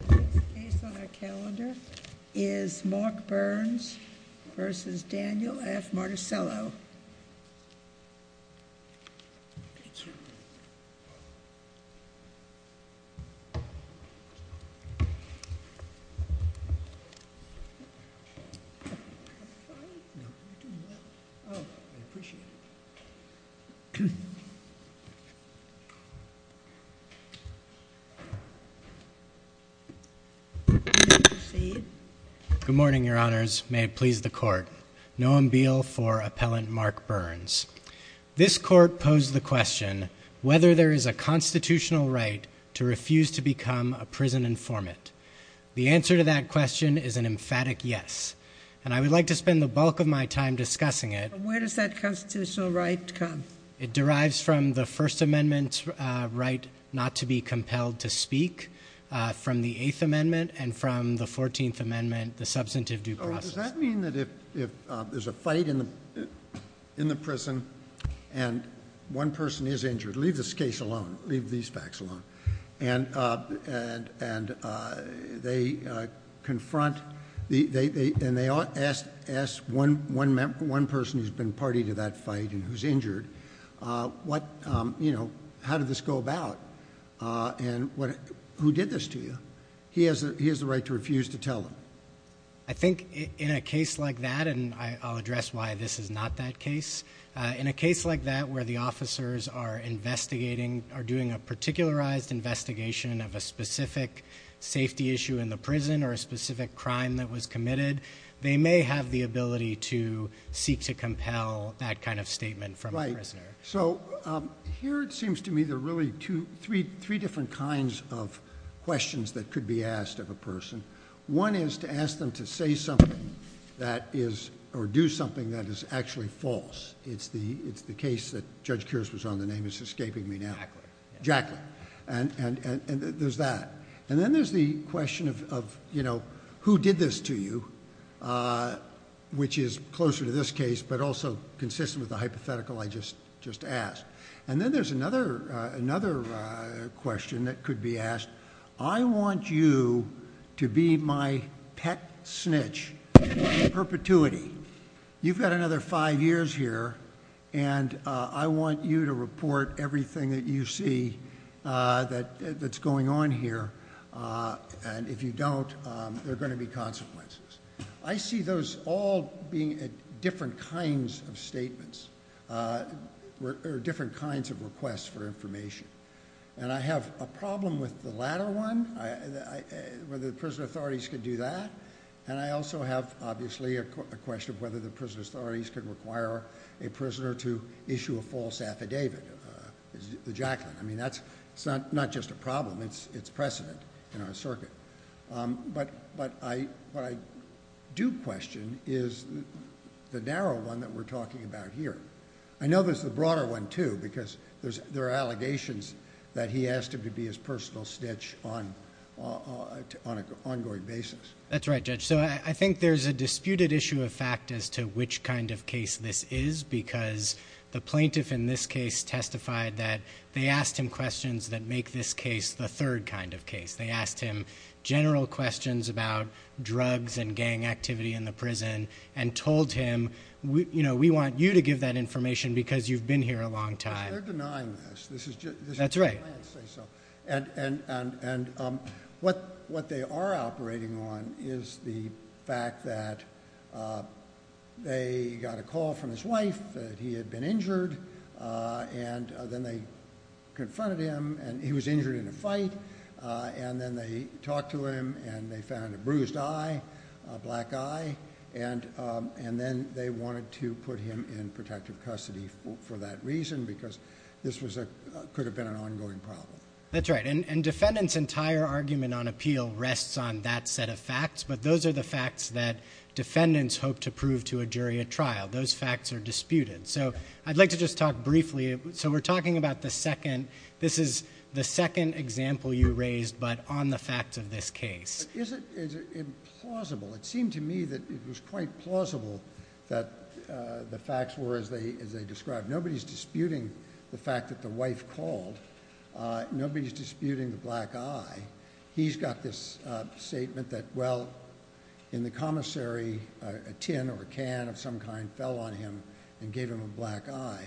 The next case on our calendar is Mark Burns v. Daniel F. Marticello Good morning, Your Honors. May it please the Court. Noam Beale for Appellant Mark Burns. This Court posed the question, whether there is a constitutional right to refuse to become a prison informant. The answer to that question is an emphatic yes. And I would like to spend the bulk of my time discussing it. Where does that constitutional right come from? It derives from the First Amendment's right not to be compelled to speak, from the Eighth Amendment, and from the Fourteenth Amendment, the substantive due process. Does that mean that if there's a fight in the prison and one person is injured, leave this case alone, leave these facts alone, and they confront, and they ask one person who's been party to that fight and who's injured, what, you know, how did this go about, and who did this to you? He has the right to refuse to tell them. I think in a case like that, and I'll address why this is not that case, in a case like that where the officers are investigating, are doing a particularized investigation of a specific safety issue in the prison or a specific crime that was committed, they may have the ability to seek to compel that kind of statement from a prisoner. So here it seems to me there are really three different kinds of questions that could be asked of a person. One is to ask them to say something that is, or do something that is actually false. It's the case that Judge Kears was on, the name is escaping me now. Jackler. Jackler. And there's that. And then there's the question of, you know, who did this to you, which is closer to this case but also consistent with the hypothetical I just asked. And then there's another question that could be asked. I want you to be my pet snitch in perpetuity. You've got another five years here and I want you to report everything that you see that's going on here. And if you don't, there are going to be consequences. I see those all being different kinds of statements, or different kinds of requests for information. And I have a problem with the latter one, whether the prison authorities could do that. And I also have, obviously, a question of whether the prison authorities could require a prisoner to issue a false affidavit, the Jackler. I mean, that's not just a problem, it's precedent in our circuit. But what I do question is the narrow one that we're talking about here. I know there's the broader one, too, because there are allegations that he asked him to be his personal snitch on an ongoing basis. That's right, Judge. So I think there's a because the plaintiff in this case testified that they asked him questions that make this case the third kind of case. They asked him general questions about drugs and gang activity in the prison and told him, you know, we want you to give that information because you've been here a long time. They're denying this. That's right. And what they are operating on is the fact that they got a call from his wife that he had been injured, and then they confronted him, and he was injured in a fight. And then they talked to him, and they found a bruised eye, a black eye. And then they wanted to put him in protective custody for that reason, because this could have been an ongoing problem. That's right. And defendant's entire argument on appeal rests on that set of facts. But those are the facts that defendants hope to prove to a jury at trial. Those facts are disputed. So I'd like to just talk briefly. So we're talking about the second. This is the second example you raised, but on the facts of this case. Is it implausible? It seemed to me that it was quite plausible that the facts were as they as they described. Nobody's disputing the fact that the wife called. Nobody's disputing the black eye. He's got this statement that, well, in the commissary, a tin or a can of some kind fell on him and gave him a black eye.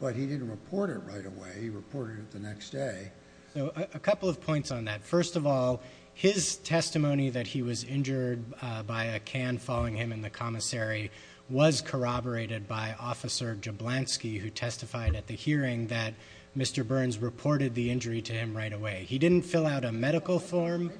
But he didn't report it right away. He reported it the next day. So a couple of points on that. First of all, his testimony that he was injured by a can falling him in the commissary was corroborated by Officer Jablanski, who testified at the hearing that Mr. Burns reported the injury to him right away. He didn't fill out a medical form.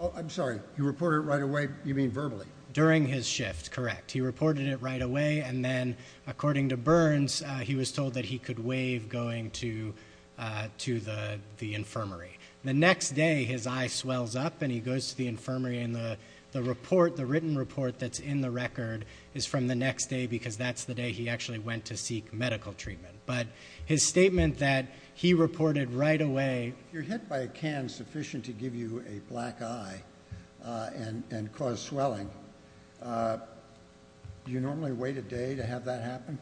Oh, I'm sorry. You report it right away? You mean verbally? During his shift. Correct. He reported it right away. And then, according to Burns, he was told that he could waive going to the infirmary. The next day, his eye swells up and he goes to the infirmary. And the report, the written report that's in the record, is from the next day because that's the day he actually went to seek medical treatment. But his statement that he reported right away... You're hit by a can sufficient to give you a black eye and cause swelling. Do you normally wait a day to have that happen?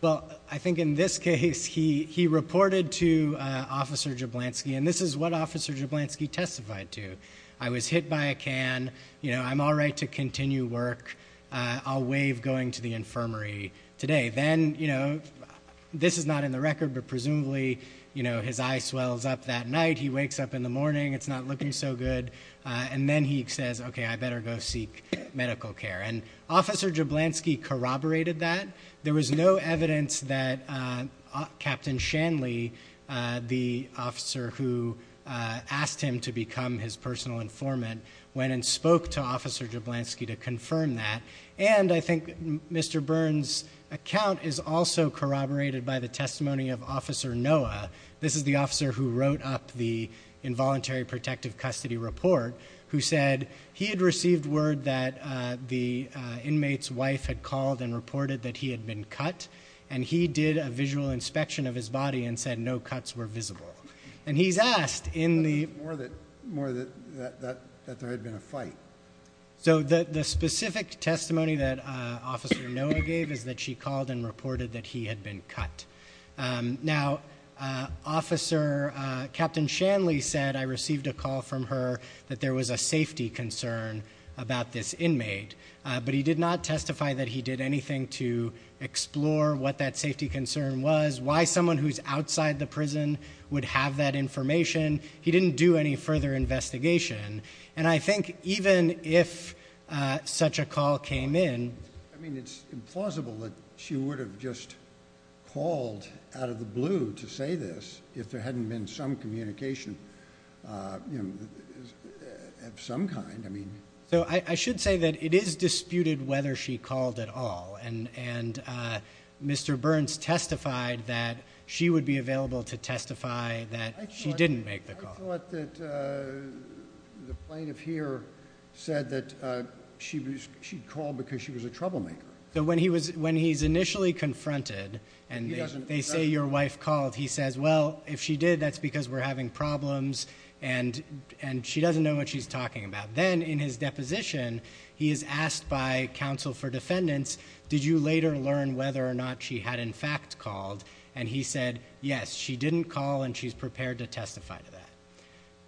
Well, I think in this case, he reported to Officer Jablanski. And this is what Officer Jablanski testified to. I was hit by a can. You know, I'm all right to continue work. I'll waive going to the infirmary today. Then, you know, this is not in the record, but presumably his eye swells up that night. He wakes up in the morning. It's not looking so good. And then he says, okay, I better go seek medical care. And Officer Jablanski corroborated that. There was no evidence that Captain Shanley, the officer who asked him to become his personal informant, went and spoke to Officer Jablanski to confirm that. And I think Mr. Burns' account is also corroborated by the testimony of Officer Noah. This is the officer who wrote up the involuntary protective custody report, who said he had received word that the inmate's wife had called and reported that he had been cut. And he did a visual inspection of his body and said no cuts were visible. And he's asked in the... more that there had been a fight. So the specific testimony that Officer Noah gave is that she called and reported that he had been cut. Now, Officer... Captain Shanley said, I received a call from her that there was a safety concern about this inmate. But he did not testify that he did anything to explore what that safety would have that information. He didn't do any further investigation. And I think even if such a call came in... I mean, it's implausible that she would have just called out of the blue to say this if there hadn't been some communication of some kind. I mean... So I should say that it is that she didn't make the call. I thought that the plaintiff here said that she'd called because she was a troublemaker. So when he's initially confronted and they say your wife called, he says, well, if she did, that's because we're having problems and she doesn't know what she's talking about. Then in his deposition, he is asked by counsel for defendants, did you later learn whether or not she had in fact called? And he said, yes, she didn't call and she's prepared to testify to that.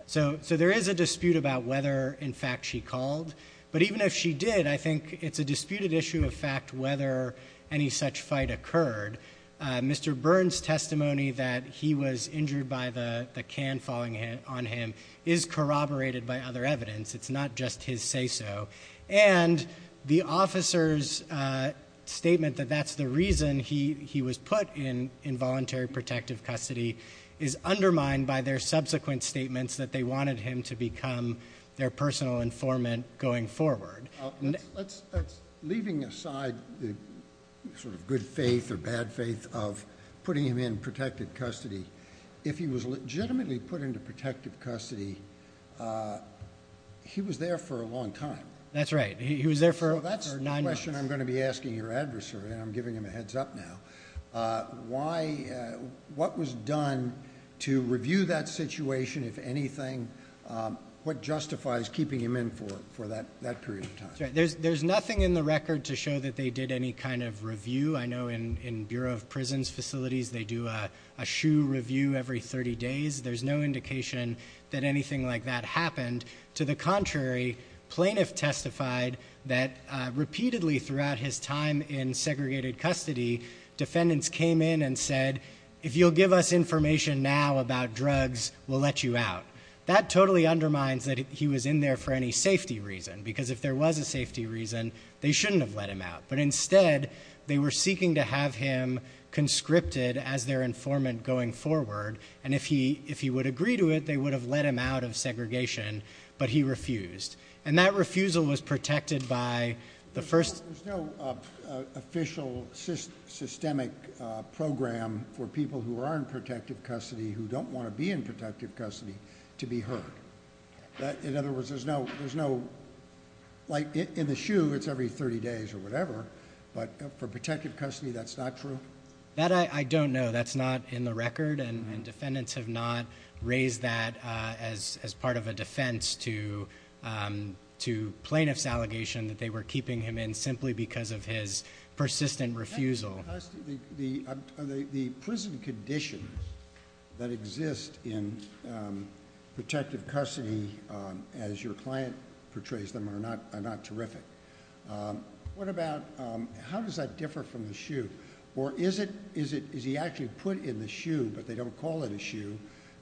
So there is a dispute about whether in fact she called. But even if she did, I think it's a disputed issue of fact, whether any such fight occurred. Mr. Burns' testimony that he was injured by the can falling on him is corroborated by other evidence. It's not just his say-so. And the officer's statement that that's the reason he was put in involuntary protective custody is undermined by their subsequent statements that they wanted him to become their personal informant going forward. Let's... Leaving aside the sort of good faith or bad faith of putting him in protective custody, if he was legitimately put into protective custody, uh, he was there for a long time. That's right. He was there for... That's the question I'm going to be asking your adversary and I'm giving him a heads up now. Uh, why, uh, what was done to review that situation, if anything, um, what justifies keeping him in for, for that, that period of time? There's, there's nothing in the record to show that they did any kind of review. I know in, in Bureau of Prisons facilities, they do a, a shoe review every 30 days. There's no that happened. To the contrary, plaintiff testified that, uh, repeatedly throughout his time in segregated custody, defendants came in and said, if you'll give us information now about drugs, we'll let you out. That totally undermines that he was in there for any safety reason, because if there was a safety reason, they shouldn't have let him out. But instead, they were seeking to have him conscripted as their informant going forward. And if he, if he would agree to it, they would have let him out of segregation, but he refused. And that refusal was protected by the first... There's no, uh, uh, official syst, systemic, uh, program for people who are in protective custody who don't want to be in protective custody to be heard. In other words, there's no, there's no, like in the shoe, it's every 30 days or whatever, but for protective custody, that's not true? That I, I don't know. That's not in the record and defendants have not raised that, uh, as, as part of a defense to, um, to plaintiff's allegation that they were keeping him in simply because of his persistent refusal. The, the, uh, the, the prison conditions that exist in, um, protective custody, um, as your client portrays them are not, are not terrific. Um, what about, um, how does that differ from or is it, is it, is he actually put in the shoe, but they don't call it a shoe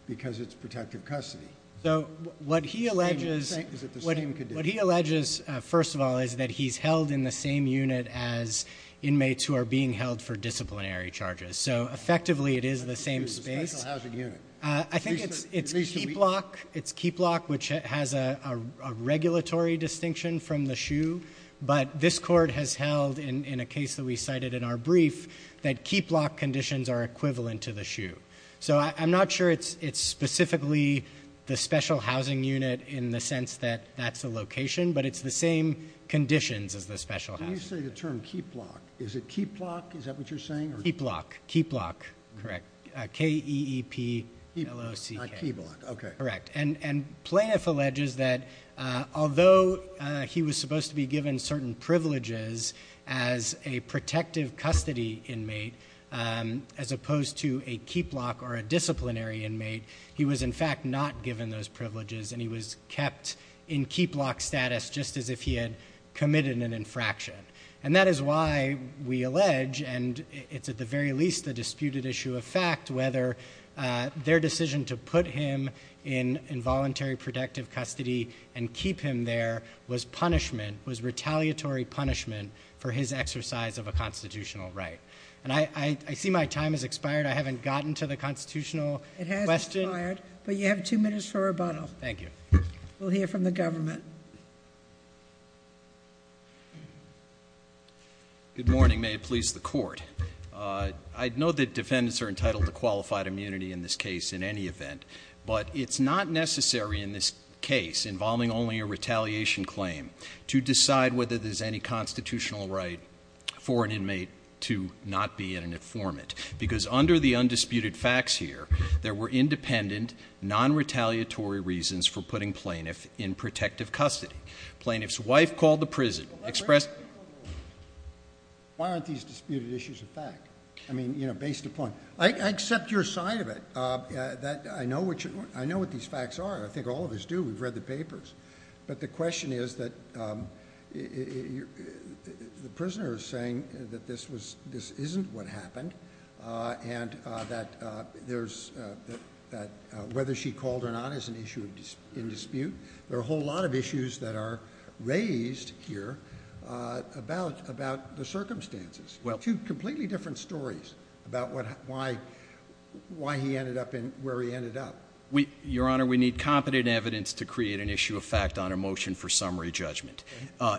because it's protective custody? So what he alleges, what he alleges, uh, first of all, is that he's held in the same unit as inmates who are being held for disciplinary charges. So effectively it is the same space. Uh, I think it's, it's keep lock, it's keep lock, which has a, a regulatory distinction from the shoe, but this court has held in, in a case that we cited in our brief that keep lock conditions are equivalent to the shoe. So I, I'm not sure it's, it's specifically the special housing unit in the sense that that's a location, but it's the same conditions as the special housing. You say the term keep lock, is it keep lock? Is that what you're saying? Keep lock, keep lock, correct. Uh, K E E P L O C K. Keep lock, okay. Correct. And, and plaintiff alleges that, uh, although, uh, he was supposed to be given certain privileges as a protective custody inmate, um, as opposed to a keep lock or a disciplinary inmate, he was in fact not given those privileges and he was kept in keep lock status just as if he had committed an infraction. And that is why we allege, and it's at the very least, the disputed issue of fact, whether, uh, their decision to put him in involuntary protective custody and keep him there was punishment, was retaliatory punishment for his exercise of a constitutional right. And I, I, I see my time has expired. I haven't gotten to the constitutional. It has expired, but you have two minutes for rebuttal. Thank you. We'll hear from the government. Good morning. May it please the court. Uh, I know that defendants are entitled to qualified immunity in this case in any event, but it's not necessary in this case involving only a retaliation claim to decide whether there's any constitutional right for an inmate to not be in an informant because under the undisputed facts here, there were independent non-retaliatory reasons for putting plaintiff in protective custody. Plaintiff's wife called the prison expressed. Why aren't these disputed issues of fact? I mean, you know, based upon, I accept your side of it. Uh, that I know what you, I know what these facts are. I think all of us do. We've read the papers, but the question is that, um, the prisoner is saying that this was, this isn't what happened. Uh, and, uh, that, uh, there's, uh, that, uh, whether she called or not as an issue of dispute, there are a whole lot of issues that are raised here, uh, about, about the circumstances. Well, two completely different stories about what, why, why he ended up in where he ended up. We, your honor, we need competent evidence to create an issue of fact on a motion for summary judgment. Uh,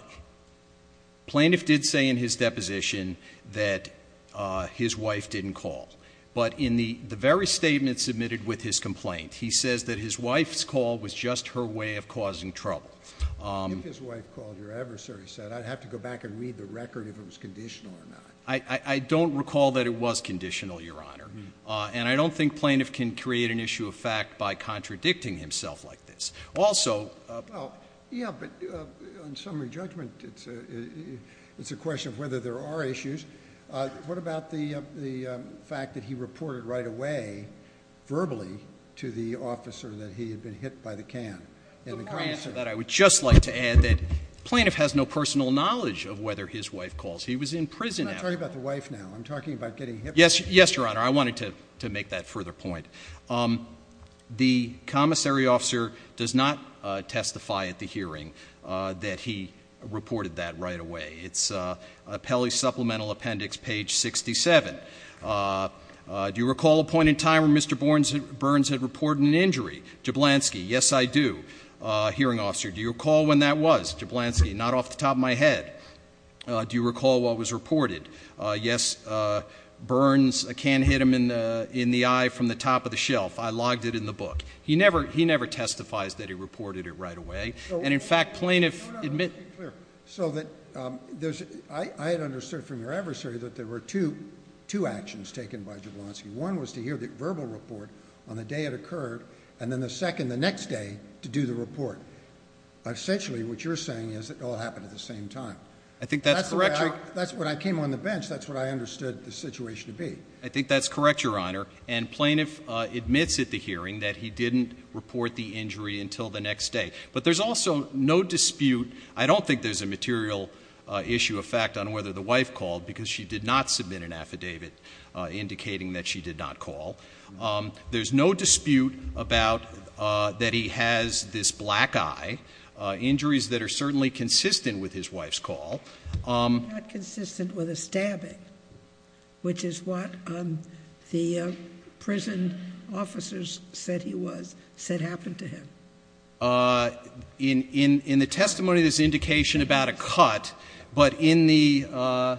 plaintiff did say in his deposition that, uh, his wife didn't call, but in the, the very statement submitted with his complaint, he says that his wife's call was just her way of causing trouble. Um, if his wife called your adversary said I'd have to go back and read the record if it was conditional or not. I, I don't recall that it was conditional, your honor. Uh, and I don't think plaintiff can create an issue of fact by contradicting himself like this. Also, uh, yeah, but, uh, on summary judgment, it's a, it's a question of whether there are issues. Uh, what about the, uh, the, um, fact that he reported right away verbally to the officer that he had been hit by the can? The more answer that I would just like to add that plaintiff has no personal knowledge of whether his wife calls. He was in prison. I'm not talking about the wife now. I'm talking about getting hit. Yes. Yes, your honor. I wanted to, to make that further point. Um, the commissary officer does not, uh, testify at the hearing, uh, that he reported that right away. It's, uh, uh, Pelley supplemental appendix page 67. Uh, uh, do you recall a point in time where Mr. Burns had reported an injury? Jablonski. Yes, I do. Uh, hearing officer, do you recall when that was Jablonski? Not off the top of my head. Uh, do you recall what was reported? Uh, yes. Uh, Burns, a can hit him in the, in the eye from the top of the shelf. I logged it in the book. He never, he never testifies that he reported it right away. And in fact, plaintiff admit. So that, um, there's, I, I had understood from your adversary that there were two, two actions taken by Jablonski. One was to hear the verbal report on the day it occurred. And then the second, the next day to do the report. Essentially what you're saying is it all happened at the same time. I think that's correct. That's what I came on the bench. That's what I understood the situation to be. I think that's correct, your Honor. And plaintiff admits at the hearing that he didn't report the injury until the next day, but there's also no dispute. I don't think there's a material issue of fact on whether the wife called because she did not submit an affidavit, uh, indicating that she did not call. Um, there's no dispute about, uh, that he has this black eye, uh, injuries that are certainly consistent with his wife's call. Um, consistent with a stabbing, which is what, um, the, uh, prison officers said he was said happened to him. Uh, in, in, in the testimony, there's indication about a cut, but in the, uh,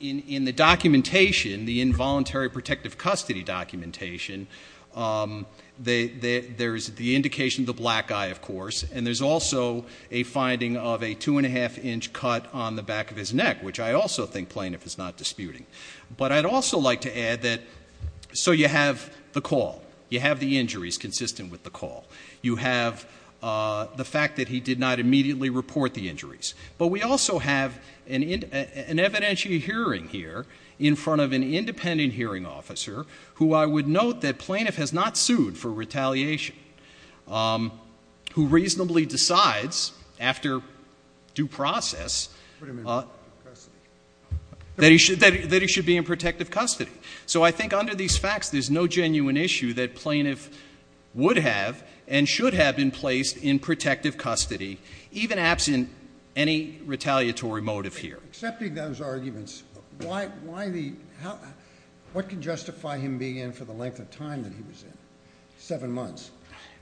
in, in the documentation, the involuntary protective custody documentation, um, the, the, there's the indication of the black eye, of course. And there's also a finding of a two and a half inch cut on the back of his neck, which I also think plaintiff is not disputing. But I'd also like to add that. So you have the you have, uh, the fact that he did not immediately report the injuries, but we also have an, an evidentiary hearing here in front of an independent hearing officer who I would note that plaintiff has not sued for retaliation, um, who reasonably decides after due process, uh, that he should, that he should be in protective custody. So I think under these facts, there's no genuine issue that plaintiff would have and should have been placed in protective custody, even absent any retaliatory motive here, accepting those arguments. Why, why the, how, what can justify him being in for the length of time that he was in seven months?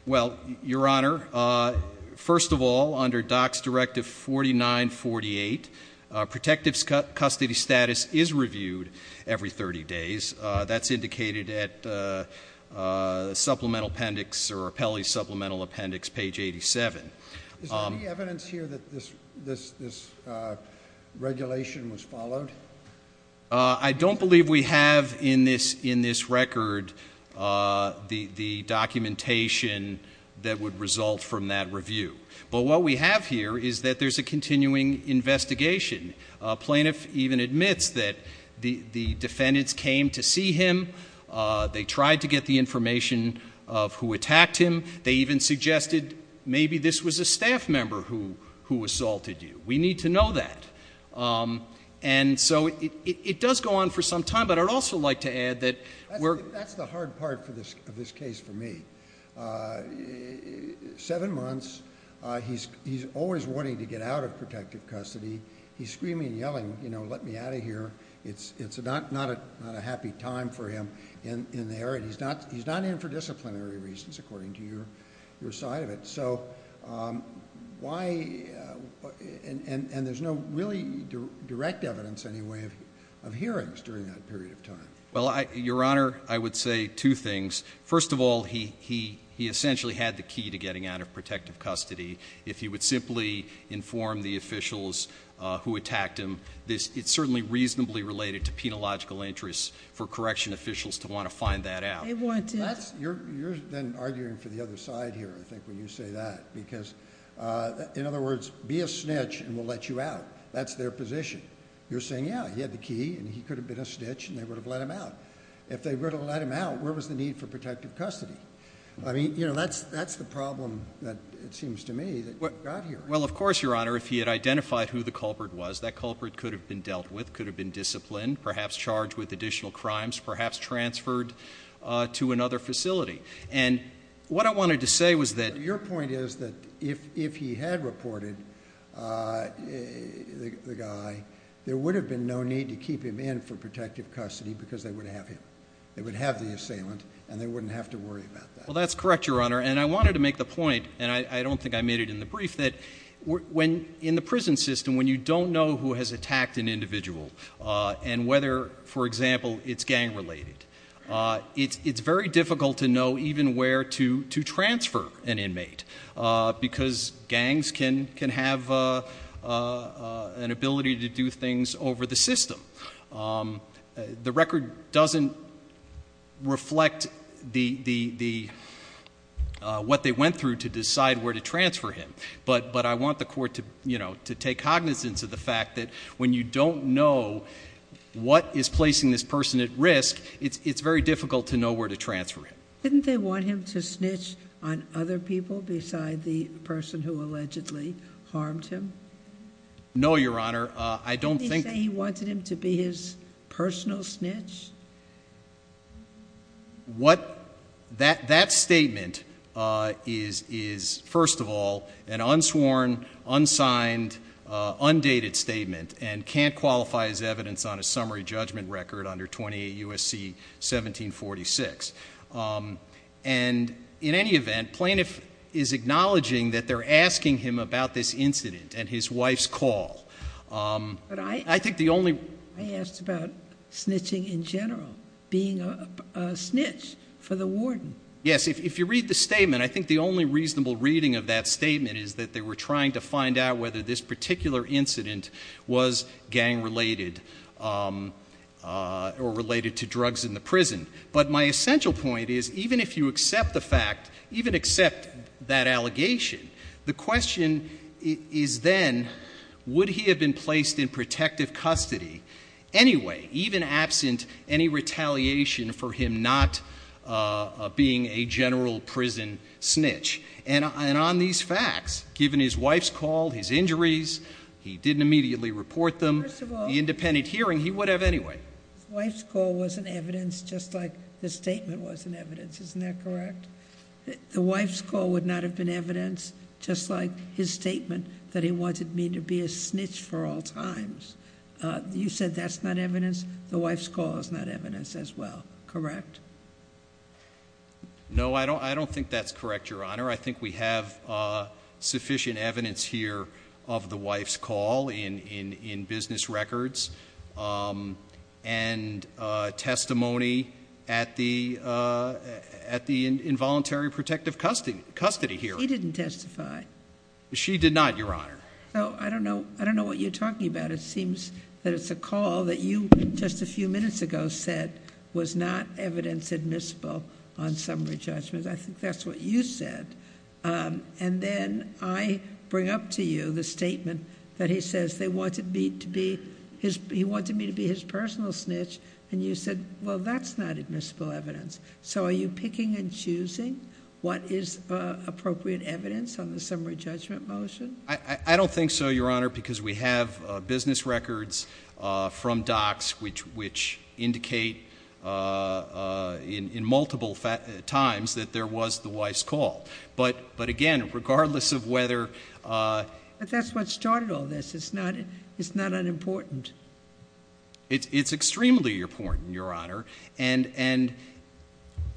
Well, your honor, uh, first of all, under docs directive 49, 48, uh, protectives cut custody status is reviewed every 30 days. Uh, that's indicated at, uh, uh, supplemental appendix or appellee supplemental appendix, page 87. Is there any evidence here that this, this, this, uh, regulation was followed? Uh, I don't believe we have in this, in this record, uh, the, the documentation that would result from that review. But what we have here is that there's a continuing investigation. A plaintiff even admits that the, the defendants came to see him. Uh, they tried to get the information of who attacked him. They even suggested maybe this was a staff member who, who assaulted you. We need to know that. Um, and so it, it, it does go on for some time, but I'd also like to add that. That's the hard part for this, of this case for me, uh, seven months. Uh, he's, he's always wanting to get out of protective custody. He's screaming, yelling, you know, let me out of here. It's, it's not, not a, not a happy time for him in, in there. And he's not, he's not in for disciplinary reasons, according to your, your side of it. So, um, why, uh, and, and, and there's no really direct evidence any way of, of hearings during that period of time. Well, I, your honor, I would say two things. First of all, he, he, he essentially had the key to getting out of protective custody. If he would simply inform the officials, uh, who attacked him, this it's certainly reasonably related to penological interests for correction officials to want to find that out. You're, you're then arguing for the other side here. I think when you say that, because, uh, in other words, be a snitch and we'll let you out. That's their position. You're saying, yeah, he had the key and he could have been a snitch and they would have let him out. If they were to let him out, where was the need for protective custody? I mean, you know, that's, that's the problem that it seems to me that got here. Well, of course, your honor, if he had identified who the culprit was, that culprit could have been dealt with, could have been disciplined, perhaps charged with additional crimes, perhaps transferred, uh, to another facility. And what I wanted to say was that your point is that if, if he had reported, uh, the guy, there would have been no need to keep him in for protective custody because they would have him, they would have the assailant and they wouldn't have to worry about that. Well, that's correct, your honor. And I wanted to make the point, and I don't think I made it in the brief that when in the prison system, when you don't know who has attacked an individual, uh, and whether, for example, it's gang related, uh, it's, it's very difficult to know even where to, to transfer an inmate, uh, because gangs can, can have, uh, uh, an ability to do things over the system. Um, uh, the record doesn't reflect the, the, the, uh, what they went through to decide where to transfer him. But, but I want the court to, you know, to take cognizance of the fact that when you don't know what is placing this person at risk, it's, it's very difficult to know where to transfer him. Didn't they want him to snitch on other people beside the person who allegedly harmed him? No, your honor. Uh, I don't think... Didn't he say he wanted him to be his personal snitch? What that, that statement, uh, is, is first of all, an unsworn, unsigned, uh, undated statement and can't qualify as evidence on a summary judgment record under 28 U.S.C. 1746. Um, and in any event, plaintiff is acknowledging that they're asking him about this incident and his wife's call. Um, but I, I think the only... I asked about snitching in general, being a, a snitch for the warden. Yes. If you read the statement, I think the only reasonable reading of that statement is that they were trying to find out whether this particular incident was gang related, um, uh, or related to drugs in the prison. But my essential point is even if you accept the fact, even accept that allegation, the question is then, would he have been placed in protective custody anyway, even absent any retaliation for him not, uh, being a general prison snitch? And on these facts, given his wife's call, his injuries, he didn't immediately report them. First of all... The independent hearing, he would have anyway. His wife's call wasn't evidence just like the statement wasn't evidence, isn't that correct? The wife's call would not have been evidence just like his statement that he wanted me to be a snitch for all times. Uh, you said that's not evidence, the wife's call is not evidence as well, correct? No, I don't, I don't think that's correct, Your Honor. I think we have, uh, sufficient evidence here of the wife's call in, in, in business records, um, and, uh, testimony at the, uh, at the involuntary protective custody, custody here. He didn't testify. She did not, Your Honor. Oh, I don't know. I don't know what you're talking about. It seems that it's a call that you just a admissible on summary judgment. I think that's what you said. Um, and then I bring up to you the statement that he says they wanted me to be his, he wanted me to be his personal snitch, and you said, well, that's not admissible evidence. So are you picking and choosing what is, uh, appropriate evidence on the summary judgment motion? I, I don't think so, Your Honor, because we have, uh, business records, uh, from docs, which, which indicate, uh, uh, in, in multiple times that there was the wife's call, but, but again, regardless of whether, uh. But that's what started all this. It's not, it's not unimportant. It's, it's extremely important, Your Honor. And, and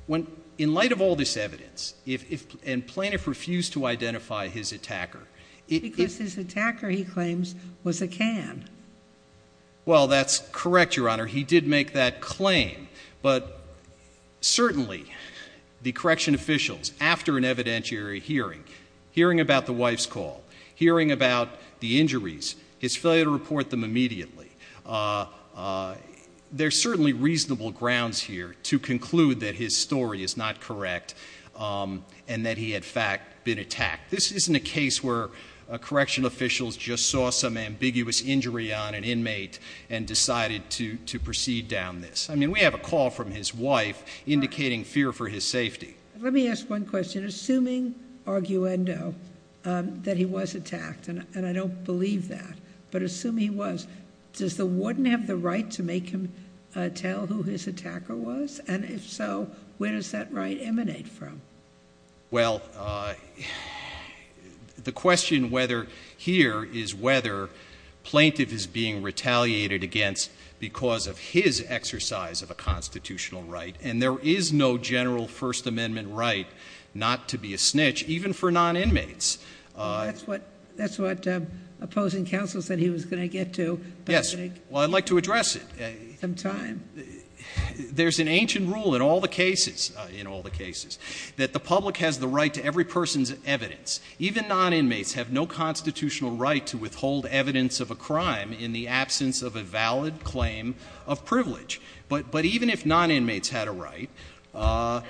when, in light of all this evidence, if, if, plaintiff refused to identify his attacker, his attacker, he claims was a can. Well, that's correct, Your Honor. He did make that claim, but certainly the correction officials after an evidentiary hearing, hearing about the wife's call, hearing about the injuries, his failure to report them immediately. Uh, uh, there's certainly reasonable grounds here to attack. This isn't a case where a correction officials just saw some ambiguous injury on an inmate and decided to, to proceed down this. I mean, we have a call from his wife indicating fear for his safety. Let me ask one question, assuming arguendo, um, that he was attacked and, and I don't believe that, but assume he was, does the warden have the right to make him, uh, tell who his attacker was? And if so, where does that right emanate from? Well, uh, the question whether here is whether plaintiff is being retaliated against because of his exercise of a constitutional right. And there is no general first amendment right, not to be a snitch, even for non inmates. Uh. That's what, that's what, um, opposing counsel said he was going to get to. Yes. Well, I'd like to address it. Some time. There's an ancient rule in all the cases, uh, in all the cases that the public has the right to every person's evidence. Even non inmates have no constitutional right to withhold evidence of a crime in the absence of a valid claim of privilege. But, but even if non inmates had a right, uh,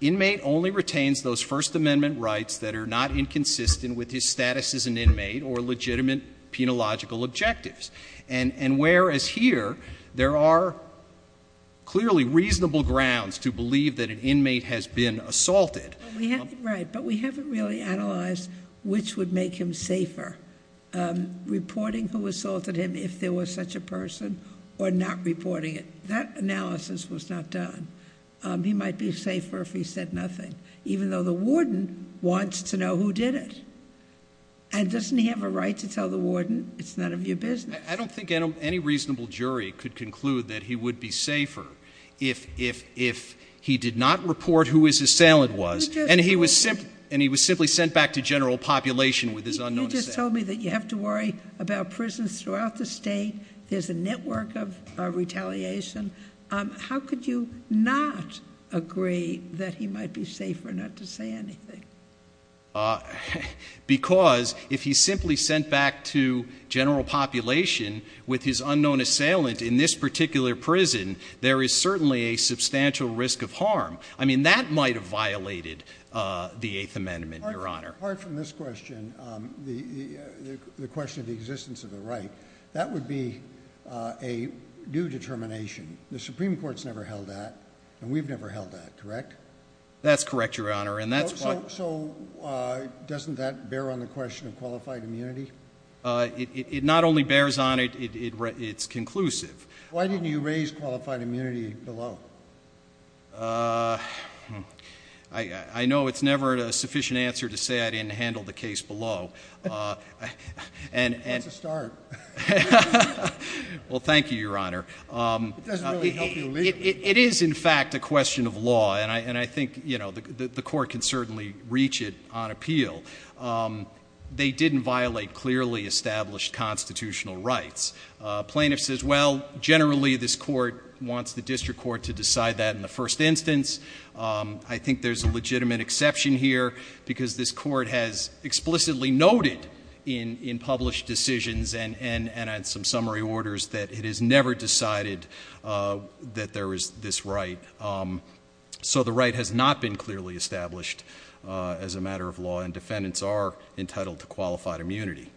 inmate only retains those first amendment rights that are not inconsistent with his status as an inmate or legitimate penological objectives. And, and whereas here there are clearly reasonable grounds to believe that an inmate has been assaulted. Right. But we haven't really analyzed which would make him safer, um, reporting who assaulted him. If there was such a person or not reporting it, that analysis was not done. Um, he might be safer if he said nothing, even though the warden wants to know who did it and doesn't have a right to tell the warden it's none of your business. I don't think any reasonable jury could conclude that he would be safer if, if, if he did not report who his assailant was and he was simply, and he was simply sent back to general population with his unknown assailant. You just told me that you have to worry about prisons throughout the state. There's a network of retaliation. Um, how could you not agree that he might be safer not to say anything? Uh, because if he's simply sent back to general population with his unknown assailant in this particular prison, there is certainly a substantial risk of harm. I mean, that might have violated, uh, the eighth amendment, your honor. Apart from this question, um, the, the question of the existence of the right, that would be, uh, a new determination. The Supreme Court's never held that and we've never held that, correct? That's correct, your honor. And that's why. So, so, uh, doesn't that bear on the question of qualified immunity? Uh, it, it, it not only bears on it, it, it, it's conclusive. Why didn't you raise qualified immunity below? Uh, I, I know it's never a sufficient answer to say I didn't handle the case below. Uh, and, and. That's a start. Well, thank you, your honor. Um, it, it, it is in fact a question of law and I, and I think, you know, the, the, the court can certainly reach it on appeal. Um, they didn't violate clearly established constitutional rights. Uh, plaintiff says, well, generally this court wants the district court to decide that in the first instance. Um, I think there's a legitimate exception here because this court has explicitly noted in, in published decisions and, and, and on some summary orders that it has never decided, uh, that there is this right. Um, so the right has not been clearly established, uh, as a matter of law and defendants are entitled to qualified immunity.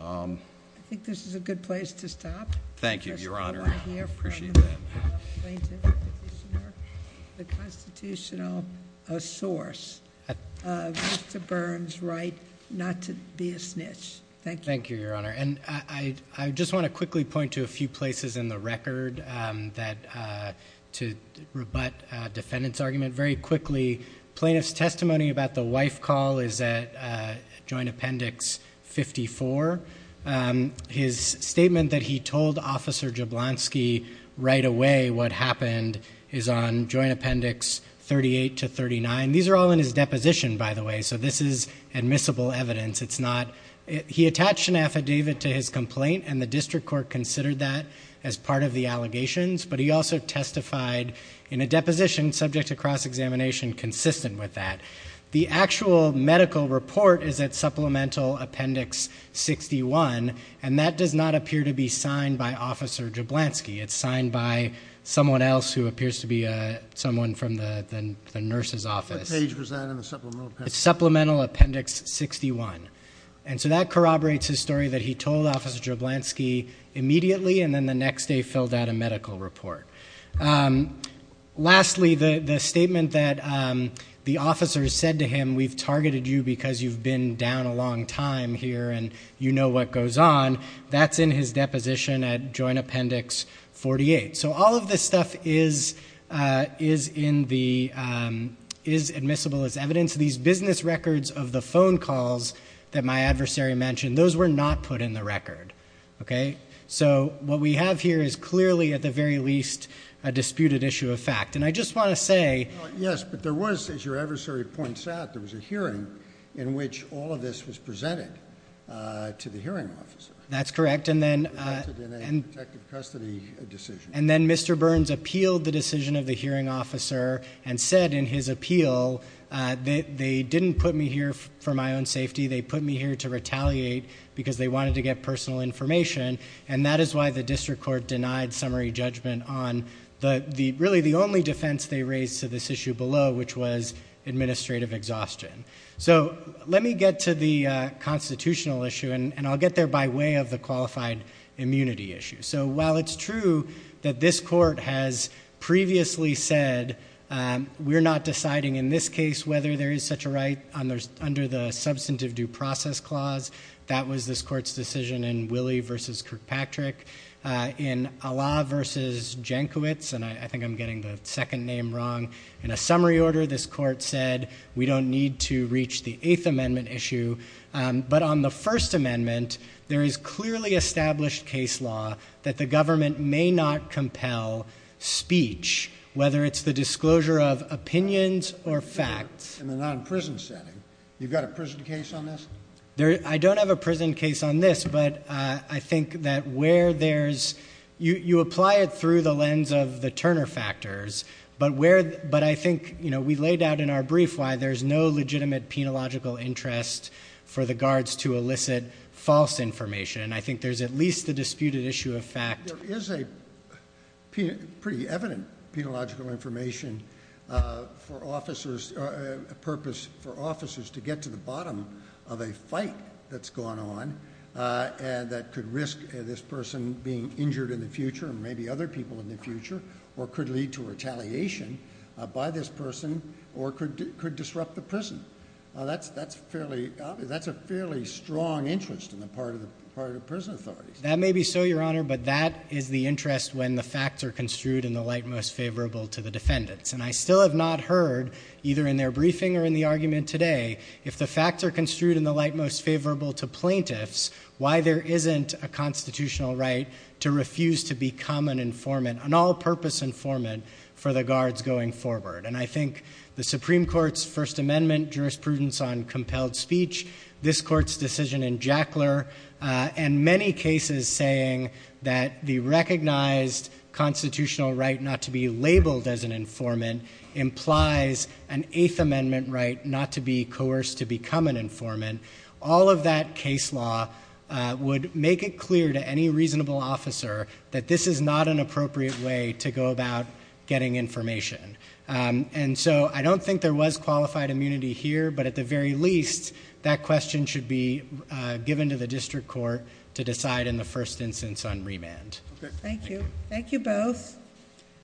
Um, I think this is a good place to stop. Thank you, your honor. I appreciate that. Plaintiff, petitioner, the constitutional, uh, source, uh, Mr. Burns' right not to be a snitch. Thank you. Thank you, your honor. And I, I just want to quickly point to a few places in the record, um, that, uh, to rebut, uh, defendant's argument. Very quickly, plaintiff's testimony about the wife call is at, uh, joint appendix 54. Um, his statement that he told officer Jablonski right away what happened is on joint appendix 38 to 39. These are all in his deposition, by the way. So this is admissible evidence. It's not, he attached an affidavit to his complaint and the district court considered that as part of the allegations, but he also testified in a deposition subject to cross-examination consistent with that. The actual medical report is at supplemental appendix 61 and that does not appear to be signed by officer Jablonski. It's signed by someone else who appears to be, uh, someone from the, the nurse's office. What page was that in the supplemental appendix? Supplemental appendix 61. And so that corroborates his story that he told officer Jablonski immediately and then the next day filled out a medical report. Um, lastly, the, the statement that, um, the officer said to him, we've targeted you because you've been down a long time here and you know what goes on, that's in his deposition at joint appendix 48. So all of this stuff is, uh, is in the, um, is admissible as evidence. These business records of the phone calls that my adversary mentioned, those were not put in the record. Okay. So what we have here is clearly at the very least a disputed issue of fact. And I just want to say, yes, but there was, as your adversary points out, there was a hearing in which all of this was presented, uh, to the hearing officer. That's correct. And then, uh, and then Mr. Burns appealed the decision of the hearing officer and said in his appeal, uh, that they didn't put me here for my own safety. They put me here to retaliate because they wanted to get personal information. And that is why the district court denied summary judgment on the, the really the only defense they raised to this issue below, which was administrative exhaustion. So let me get to the constitutional issue and I'll get there by way of the qualified immunity issue. So while it's true that this court has previously said, um, we're not deciding in this case, whether there is such a right on there's under the substantive due process clause, that was this court's decision in Willie versus Kirkpatrick, uh, in Allah versus Jenkiewicz. And I think I'm getting the second name wrong in a summary order. This court said we don't need to reach the eighth amendment issue. Um, but on the first amendment, there is clearly established case law that the government may not compel speech, whether it's the disclosure of opinions or facts and they're not in prison setting. You've got a prison case on this. There, I don't have a prison case on this, but, uh, I think that where there's you, you apply it through the lens of the Turner factors, but where, but I think, you know, we laid out in our brief why there's no legitimate penological interest for the guards to elicit false information. And I think there's at least the disputed issue of fact. There is a pretty evident penological information, uh, for officers, uh, a purpose for officers to get to the bottom of a fight that's gone on, uh, and that could risk this person being injured in the future and maybe other people in the future or could lead to retaliation, uh, by this person or could, could disrupt the prison. Uh, that's, that's fairly obvious. That's a fairly strong interest in the part of the part of the prison authorities. That may be so your honor, but that is the interest when the facts are construed in the light, most favorable to the defendants. And I still have not heard either in their briefing or in the argument today, if the facts are construed in the light, most favorable to plaintiffs, why there isn't a constitutional right to refuse to become an informant, an all purpose informant for the guards going forward. And I think the Supreme court's first amendment jurisprudence on compelled speech, this court's decision in Jackler, uh, and many cases saying that the recognized constitutional right not to be labeled as an informant implies an eighth amendment, right? Not to be coerced to become an informant. All of that case law, uh, would make it clear to any reasonable officer that this is not an appropriate way to go about getting information. Um, and so I don't think there was qualified immunity here, but at the very least that question should be, uh, given to the district court to decide in the first instance on remand. Okay. Thank you. Thank you both.